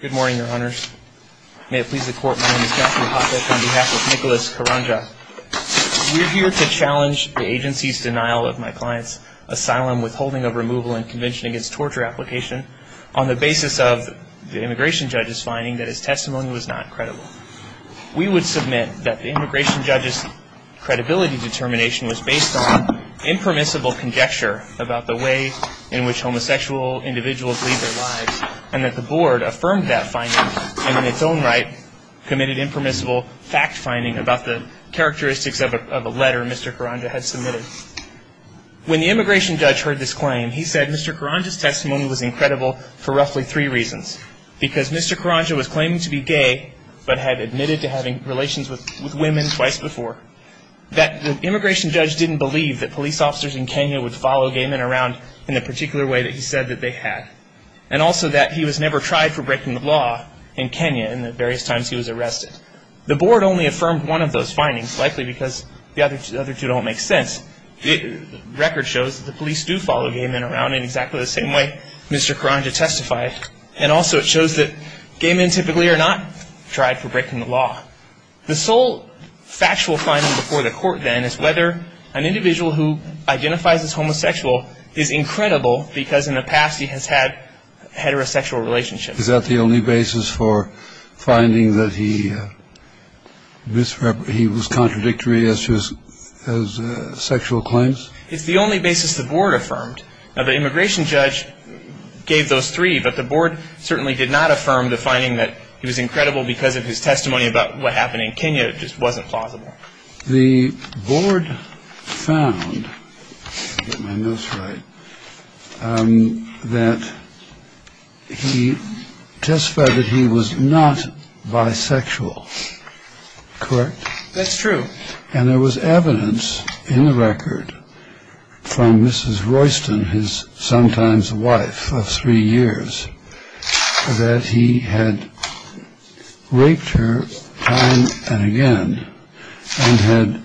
Good morning, your honors. May it please the court, my name is Geoffrey Popovich on behalf of Nicholas Karanja. We're here to challenge the agency's denial of my client's asylum, withholding of removal, and Convention Against Torture application on the basis of the immigration judge's finding that his testimony was not credible. We would submit that the immigration judge's credibility determination was based on impermissible conjecture about the way in which homosexual individuals lead their lives and that the board affirmed that finding and in its own right committed impermissible fact finding about the characteristics of a letter Mr. Karanja had submitted. When the immigration judge heard this claim, he said Mr. Karanja's testimony was incredible for roughly three reasons. Because Mr. Karanja was claiming to be gay but had admitted to having relations with women twice before. That the immigration judge didn't believe that police officers in Kenya would follow gay men around in the particular way that he said that they had. And also that he was never tried for breaking the law in Kenya in the various times he was arrested. The board only affirmed one of those findings, likely because the other two don't make sense. The record shows that the police do follow gay men around in exactly the same way Mr. Karanja testified. And also it shows that gay men typically are not tried for breaking the law. The sole factual finding before the court then is whether an individual who identifies as homosexual is incredible because in the past he has had heterosexual relationships. Is that the only basis for finding that he was contradictory as to his sexual claims? It's the only basis the board affirmed. Now the immigration judge gave those three but the board certainly did not affirm the finding that he was incredible because of his testimony about what happened in Kenya. It just wasn't plausible. The board found that he testified that he was not bisexual, correct? That's true. And there was evidence in the record from Mrs. Royston, his sometimes wife of three years, that he had raped her time and again and had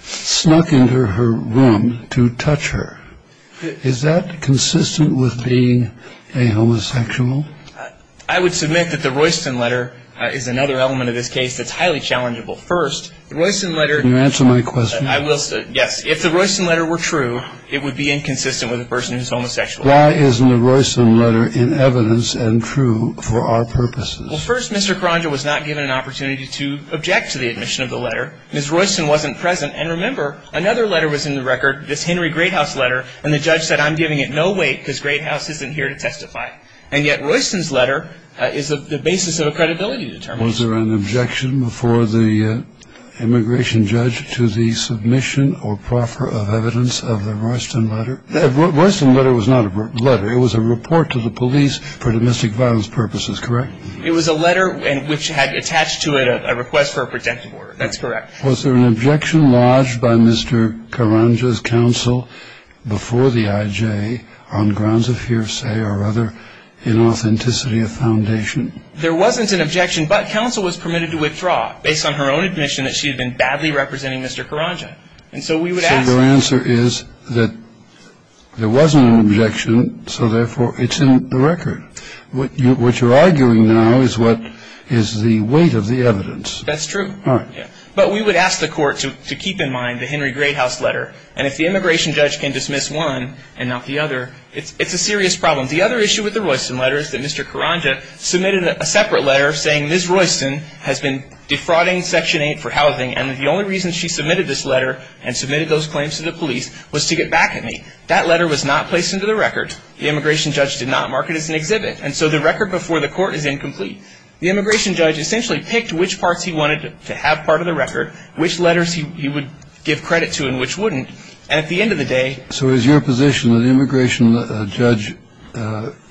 snuck into her room to touch her. Is that consistent with being a homosexual? I would submit that the Royston letter is another element of this case that's highly challengeable. First, the Royston letter. Can you answer my question? Yes. If the Royston letter were true, it would be inconsistent with a person who's homosexual. Why isn't the Royston letter in evidence and true for our purposes? Well, first, Mr. Karanja was not given an opportunity to object to the admission of the letter. Mrs. Royston wasn't present. And remember, another letter was in the record, this Henry Greathouse letter, and the judge said I'm giving it no weight because Greathouse isn't here to testify. And yet Royston's letter is the basis of a credibility determination. Was there an objection before the immigration judge to the submission or proffer of evidence of the Royston letter? The Royston letter was not a letter. It was a report to the police for domestic violence purposes, correct? It was a letter which had attached to it a request for a protection order. That's correct. Was there an objection lodged by Mr. Karanja's counsel before the IJ on grounds of hearsay or other inauthenticity of foundation? There wasn't an objection, but counsel was permitted to withdraw based on her own admission that she had been badly representing Mr. Karanja. So your answer is that there wasn't an objection, so therefore it's in the record. What you're arguing now is what is the weight of the evidence. That's true. All right. But we would ask the Court to keep in mind the Henry Greathouse letter. And if the immigration judge can dismiss one and not the other, it's a serious problem. The other issue with the Royston letter is that Mr. Karanja submitted a separate letter saying Ms. Royston has been defrauding Section 8 for housing, and the only reason she submitted this letter and submitted those claims to the police was to get back at me. That letter was not placed into the record. The immigration judge did not mark it as an exhibit. And so the record before the Court is incomplete. The immigration judge essentially picked which parts he wanted to have part of the record, which letters he would give credit to and which wouldn't. And at the end of the day, So is your position that the immigration judge,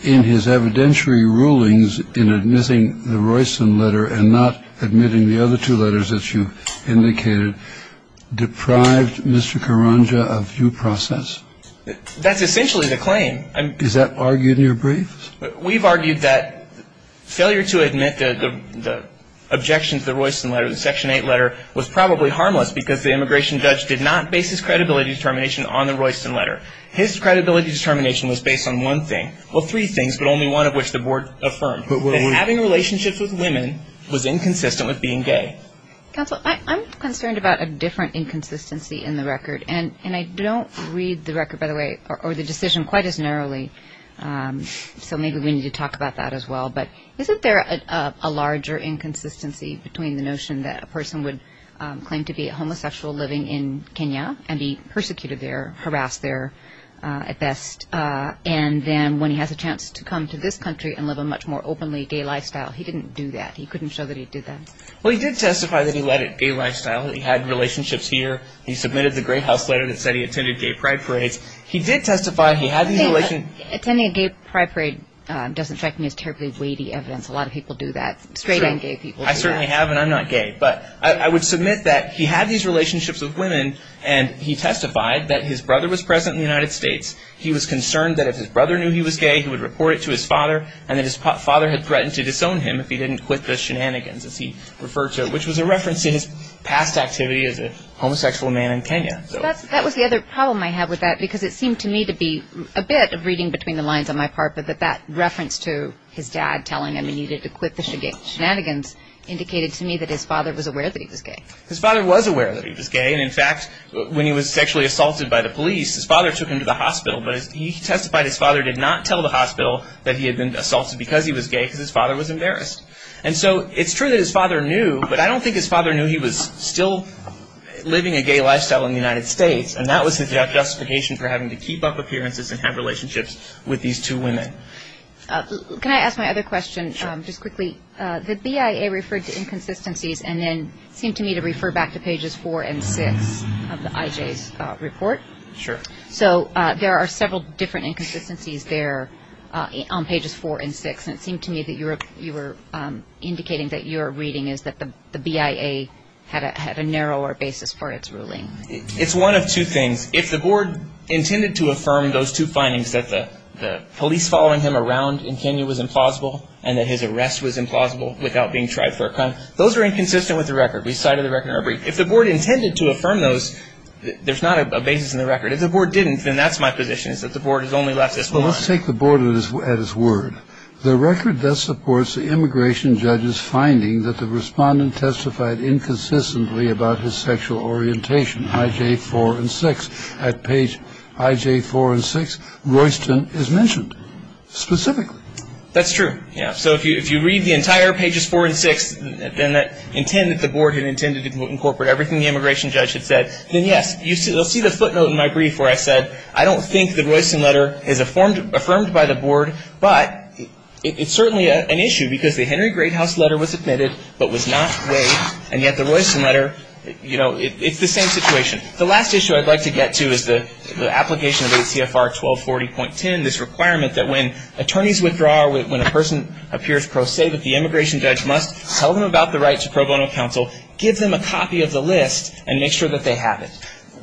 in his evidentiary rulings, in admitting the Royston letter and not admitting the other two letters that you indicated, deprived Mr. Karanja of due process? That's essentially the claim. Is that argued in your briefs? We've argued that failure to admit the objection to the Royston letter, the Section 8 letter, was probably harmless because the immigration judge did not base his credibility determination on the Royston letter. His credibility determination was based on one thing. Well, three things, but only one of which the Board affirmed, that having relationships with women was inconsistent with being gay. Counsel, I'm concerned about a different inconsistency in the record. And I don't read the record, by the way, or the decision quite as narrowly. So maybe we need to talk about that as well. But isn't there a larger inconsistency between the notion that a person would claim to be a homosexual living in Kenya and be persecuted there, harassed there at best, and then when he has a chance to come to this country and live a much more openly gay lifestyle? He didn't do that. He couldn't show that he did that. Well, he did testify that he led a gay lifestyle, that he had relationships here. He submitted the Gray House letter that said he attended gay pride parades. He did testify he had these relationships. Attending a gay pride parade doesn't strike me as terribly weighty evidence. A lot of people do that. Straight and gay people do that. I certainly have, and I'm not gay. But I would submit that he had these relationships with women, and he testified that his brother was President of the United States. He was concerned that if his brother knew he was gay, he would report it to his father, and that his father had threatened to disown him if he didn't quit the shenanigans, as he referred to it, which was a reference to his past activity as a homosexual man in Kenya. That was the other problem I had with that, because it seemed to me to be a bit of reading between the lines on my part, but that reference to his dad telling him he needed to quit the shenanigans indicated to me that his father was aware that he was gay. His father was aware that he was gay. And, in fact, when he was sexually assaulted by the police, his father took him to the hospital, but he testified his father did not tell the hospital that he had been assaulted because he was gay because his father was embarrassed. And so it's true that his father knew, but I don't think his father knew he was still living a gay lifestyle in the United States, and that was his justification for having to keep up appearances and have relationships with these two women. Can I ask my other question just quickly? Sure. The BIA referred to inconsistencies and then seemed to me to refer back to Pages 4 and 6 of the IJ's report. Sure. So there are several different inconsistencies there on Pages 4 and 6, and it seemed to me that you were indicating that your reading is that the BIA had a narrower basis for its ruling. It's one of two things. If the board intended to affirm those two findings, that the police following him around in Kenya was implausible and that his arrest was implausible without being tried for a crime, those are inconsistent with the record. We cited the record in our brief. If the board intended to affirm those, there's not a basis in the record. If the board didn't, then that's my position, is that the board has only left this one line. Let's take the board at its word. The record thus supports the immigration judge's finding that the respondent testified inconsistently about his sexual orientation, IJ 4 and 6. At Page IJ 4 and 6, Royston is mentioned specifically. That's true. Yeah. So if you read the entire Pages 4 and 6, then the board had intended to incorporate everything the immigration judge had said, then, yes, you'll see the footnote in my brief where I said, I don't think the Royston letter is affirmed by the board, but it's certainly an issue because the Henry Great House letter was admitted but was not weighed, and yet the Royston letter, you know, it's the same situation. The last issue I'd like to get to is the application of ACFR 1240.10, this requirement that when attorneys withdraw or when a person appears pro se, that the immigration judge must tell them about the right to pro bono counsel, give them a copy of the list, and make sure that they have it.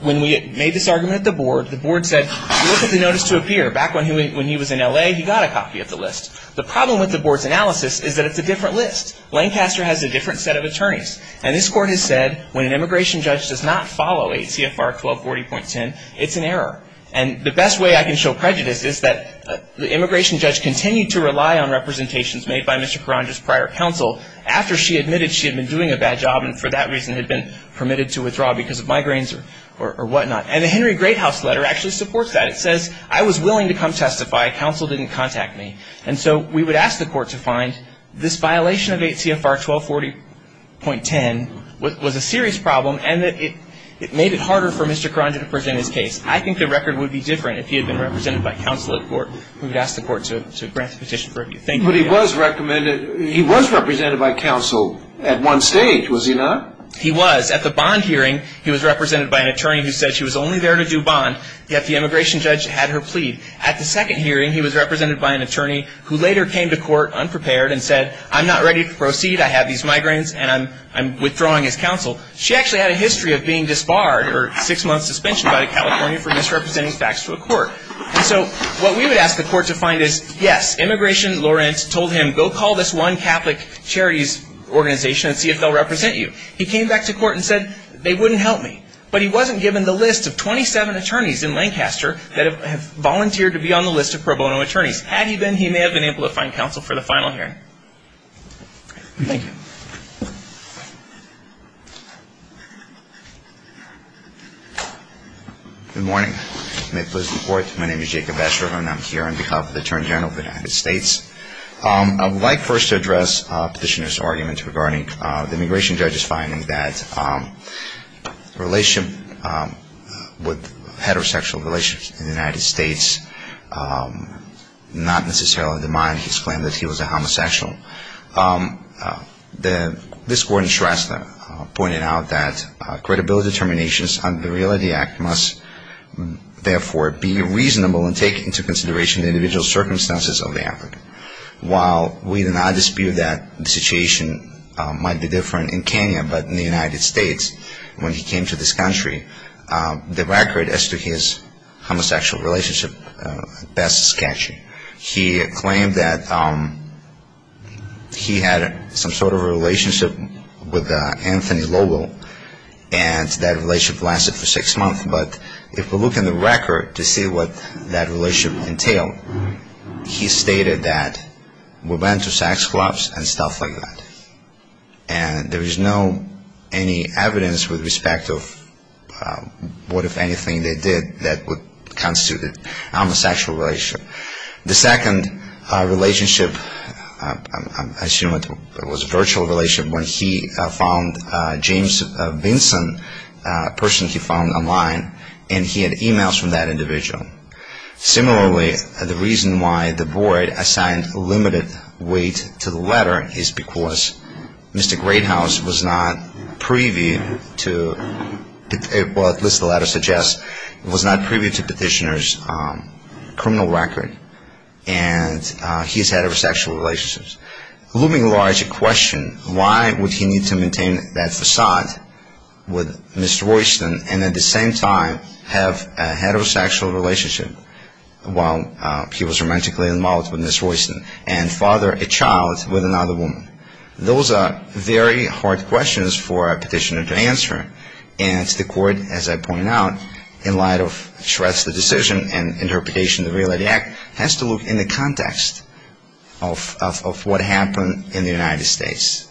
When we made this argument at the board, the board said, look at the notice to appear. Back when he was in L.A., he got a copy of the list. The problem with the board's analysis is that it's a different list. Lancaster has a different set of attorneys, and this court has said when an immigration judge does not follow ACFR 1240.10, it's an error. And the best way I can show prejudice is that the immigration judge continued to rely on representations made by Mr. Carandra's prior counsel after she admitted she had been doing a bad job and for that reason had been permitted to withdraw because of migraines or whatnot. And the Henry Great House letter actually supports that. It says, I was willing to come testify. Counsel didn't contact me. And so we would ask the court to find this violation of ACFR 1240.10 was a serious problem and that it made it harder for Mr. Carandra to present his case. I think the record would be different if he had been represented by counsel at court. We would ask the court to grant the petition for review. Thank you. But he was recommended, he was represented by counsel at one stage, was he not? He was. At the bond hearing, he was represented by an attorney who said she was only there to do bond, yet the immigration judge had her plead. At the second hearing, he was represented by an attorney who later came to court unprepared and said, I'm not ready to proceed. I have these migraines and I'm withdrawing as counsel. She actually had a history of being disbarred or six months suspension by the California for misrepresenting facts to a court. And so what we would ask the court to find is, yes, Immigration Lawrence told him, go call this one Catholic charities organization and see if they'll represent you. He came back to court and said, they wouldn't help me. But he wasn't given the list of 27 attorneys in Lancaster that have volunteered to be on the list of pro bono attorneys. Had he been, he may have been able to find counsel for the final hearing. Thank you. Good morning. May it please the Court. My name is Jacob Vesterhoff and I'm here on behalf of the Attorney General of the United States. I would like first to address Petitioner's argument regarding the immigration judge's finding that the relationship with heterosexual relations in the United States is not necessarily in the mind. He explained that he was a homosexual. This court in Shrestha pointed out that credibility determinations under the Reality Act must, therefore, be reasonable and take into consideration the individual circumstances of the act. While we do not dispute that the situation might be different in Kenya, but in the United States, when he came to this country, the record as to his homosexual relationship is sketchy. He claimed that he had some sort of relationship with Anthony Lowell and that relationship lasted for six months. But if we look in the record to see what that relationship entailed, he stated that we went to sex clubs and stuff like that. And there is no evidence with respect to what, if anything, they did that would constitute a homosexual relationship. The second relationship, I assume it was a virtual relationship, when he found James Vinson, a person he found online, and he had e-mails from that individual. Similarly, the reason why the board assigned limited weight to the letter is because Mr. Greathouse was not previewed to, at least the letter suggests, was not previewed to Petitioner's criminal record and he has heterosexual relationships. Looming large, the question, why would he need to maintain that facade with Mr. Royston and at the same time have a heterosexual relationship while he was romantically involved with Ms. Royston and father a child with another woman? Those are very hard questions for a petitioner to answer. And the court, as I pointed out, in light of Shred's decision and interpretation of the Reality Act, has to look in the context of what happened in the United States.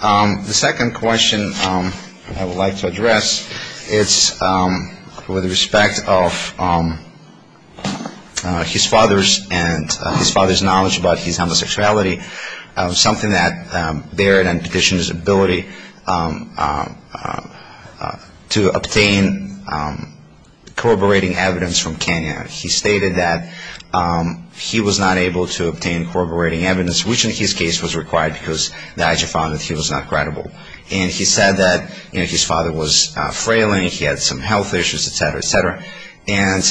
The second question I would like to address is with respect of his father's and his father's knowledge about his homosexuality, something that bared in Petitioner's ability to obtain corroborating evidence from Kenya. He stated that he was not able to obtain corroborating evidence, which in his case was required because the action found that he was not credible. And he said that his father was frailing, he had some health issues, et cetera, et cetera, and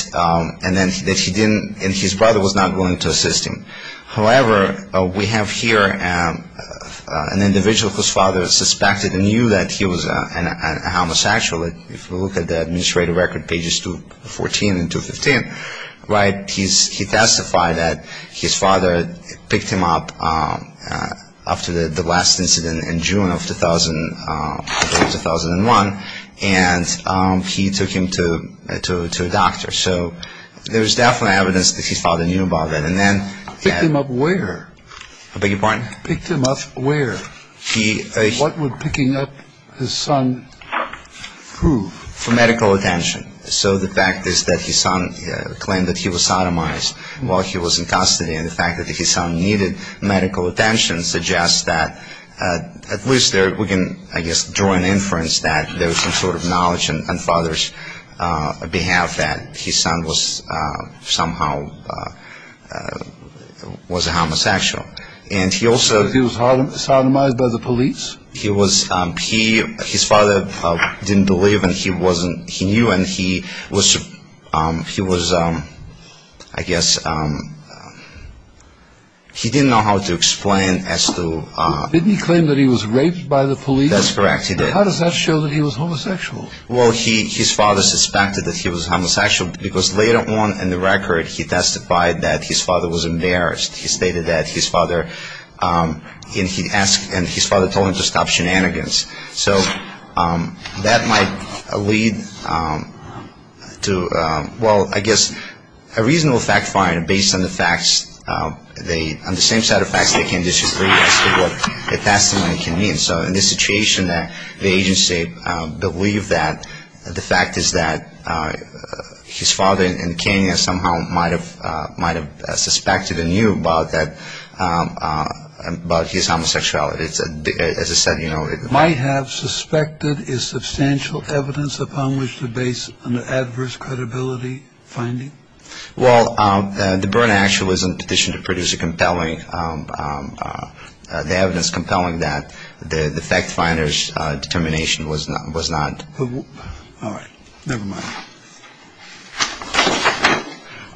then that he didn't, and his brother was not willing to assist him. However, we have here an individual whose father suspected and knew that he was a homosexual. If you look at the administrative record, pages 214 and 215, he testified that his father picked him up after the last incident in June of 2001, and he took him to a doctor. So there was definitely evidence that his father knew about that. And then he had... Picked him up where? I beg your pardon? Picked him up where? What would picking up his son prove? For medical attention. So the fact is that his son claimed that he was sodomized while he was in custody, and the fact that his son needed medical attention suggests that at least we can, I guess, draw an inference that there was some sort of knowledge on father's behalf that his son was somehow was a homosexual. And he also... He was sodomized by the police? His father didn't believe and he knew and he was, I guess, he didn't know how to explain as to... Didn't he claim that he was raped by the police? That's correct, he did. How does that show that he was homosexual? Well, his father suspected that he was homosexual because later on in the record, he testified that his father was embarrassed. He stated that his father, and he asked, and his father told him to stop shenanigans. So that might lead to, well, I guess, a reasonable fact-finding based on the facts, on the same set of facts they can disagree as to what a testimony can mean. So in this situation, the agency believed that the fact is that his father in Kenya somehow might have suspected and knew about that, about his homosexuality. As I said, you know... Might have suspected is substantial evidence upon which to base an adverse credibility finding? Well, the burn actually was in addition to producing compelling, the evidence compelling that the fact finder's determination was not... All right, never mind.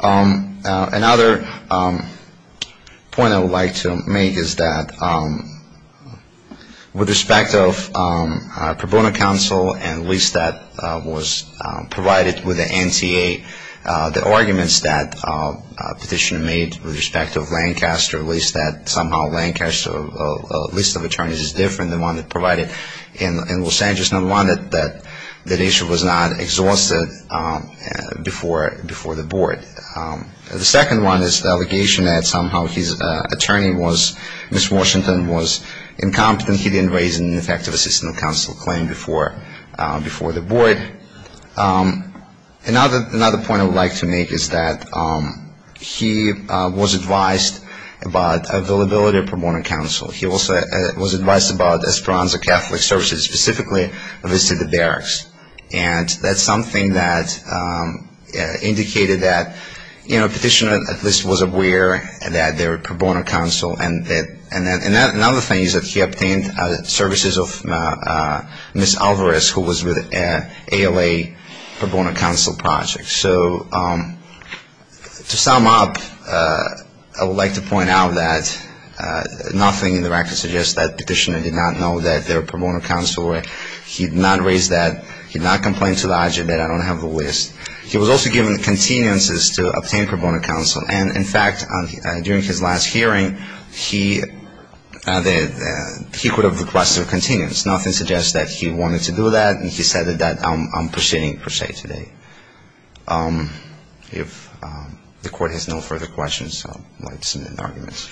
Another point I would like to make is that with respect of pro bono counsel and at least that was provided with the NTA, the arguments that petitioner made with respect of Lancaster, at least that somehow Lancaster's list of attorneys is different than the one provided in Los Angeles, that issue was not exhausted before the board. The second one is the allegation that somehow his attorney was, Ms. Washington was incompetent. He didn't raise an effective assistant counsel claim before the board. Another point I would like to make is that he was advised about availability of pro bono counsel. He also was advised about Esperanza Catholic Services specifically visited the barracks. And that's something that indicated that, you know, petitioner at least was aware that there were pro bono counsel. And another thing is that he obtained services of Ms. Alvarez, who was with ALA pro bono counsel project. So to sum up, I would like to point out that nothing in the record suggests that petitioner did not know that there were pro bono counsel. He did not raise that. He did not complain to the argument that I don't have the list. He was also given continuances to obtain pro bono counsel. And in fact, during his last hearing, he could have requested a continuance. Nothing suggests that he wanted to do that. The court has no further questions. I'll let the arguments.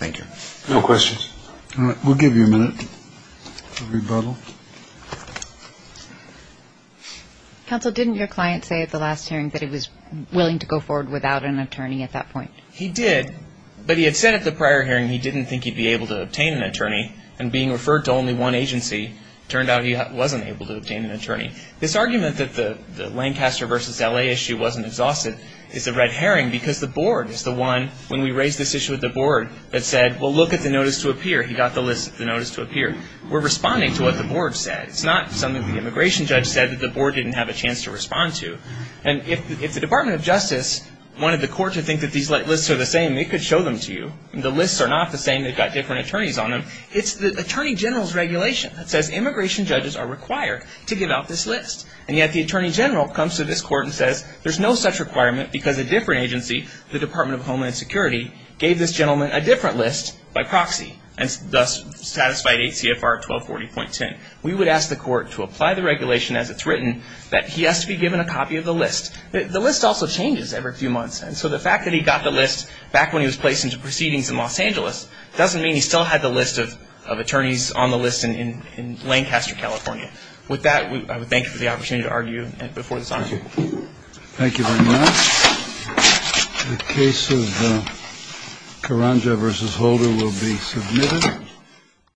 Thank you. No questions. All right. We'll give you a minute for rebuttal. Counsel, didn't your client say at the last hearing that he was willing to go forward without an attorney at that point? He did, but he had said at the prior hearing he didn't think he'd be able to obtain an attorney. This argument that the Lancaster versus L.A. issue wasn't exhausted is a red herring because the board is the one, when we raised this issue with the board, that said, well, look at the notice to appear. He got the list of the notice to appear. We're responding to what the board said. It's not something the immigration judge said that the board didn't have a chance to respond to. And if the Department of Justice wanted the court to think that these lists are the same, they could show them to you. The lists are not the same. They've got different attorneys on them. It's the Attorney General's regulation that says immigration judges are required to give out this list. And yet the Attorney General comes to this court and says there's no such requirement because a different agency, the Department of Homeland Security, gave this gentleman a different list by proxy and thus satisfied 8 CFR 1240.10. We would ask the court to apply the regulation as it's written that he has to be given a copy of the list. The list also changes every few months. And so the fact that he got the list back when he was placed into proceedings in Los Angeles doesn't mean he still had the list of attorneys on the list in Lancaster, California. With that, I would thank you for the opportunity to argue before this honor. Thank you. Thank you very much. The case of Caranga v. Holder will be submitted.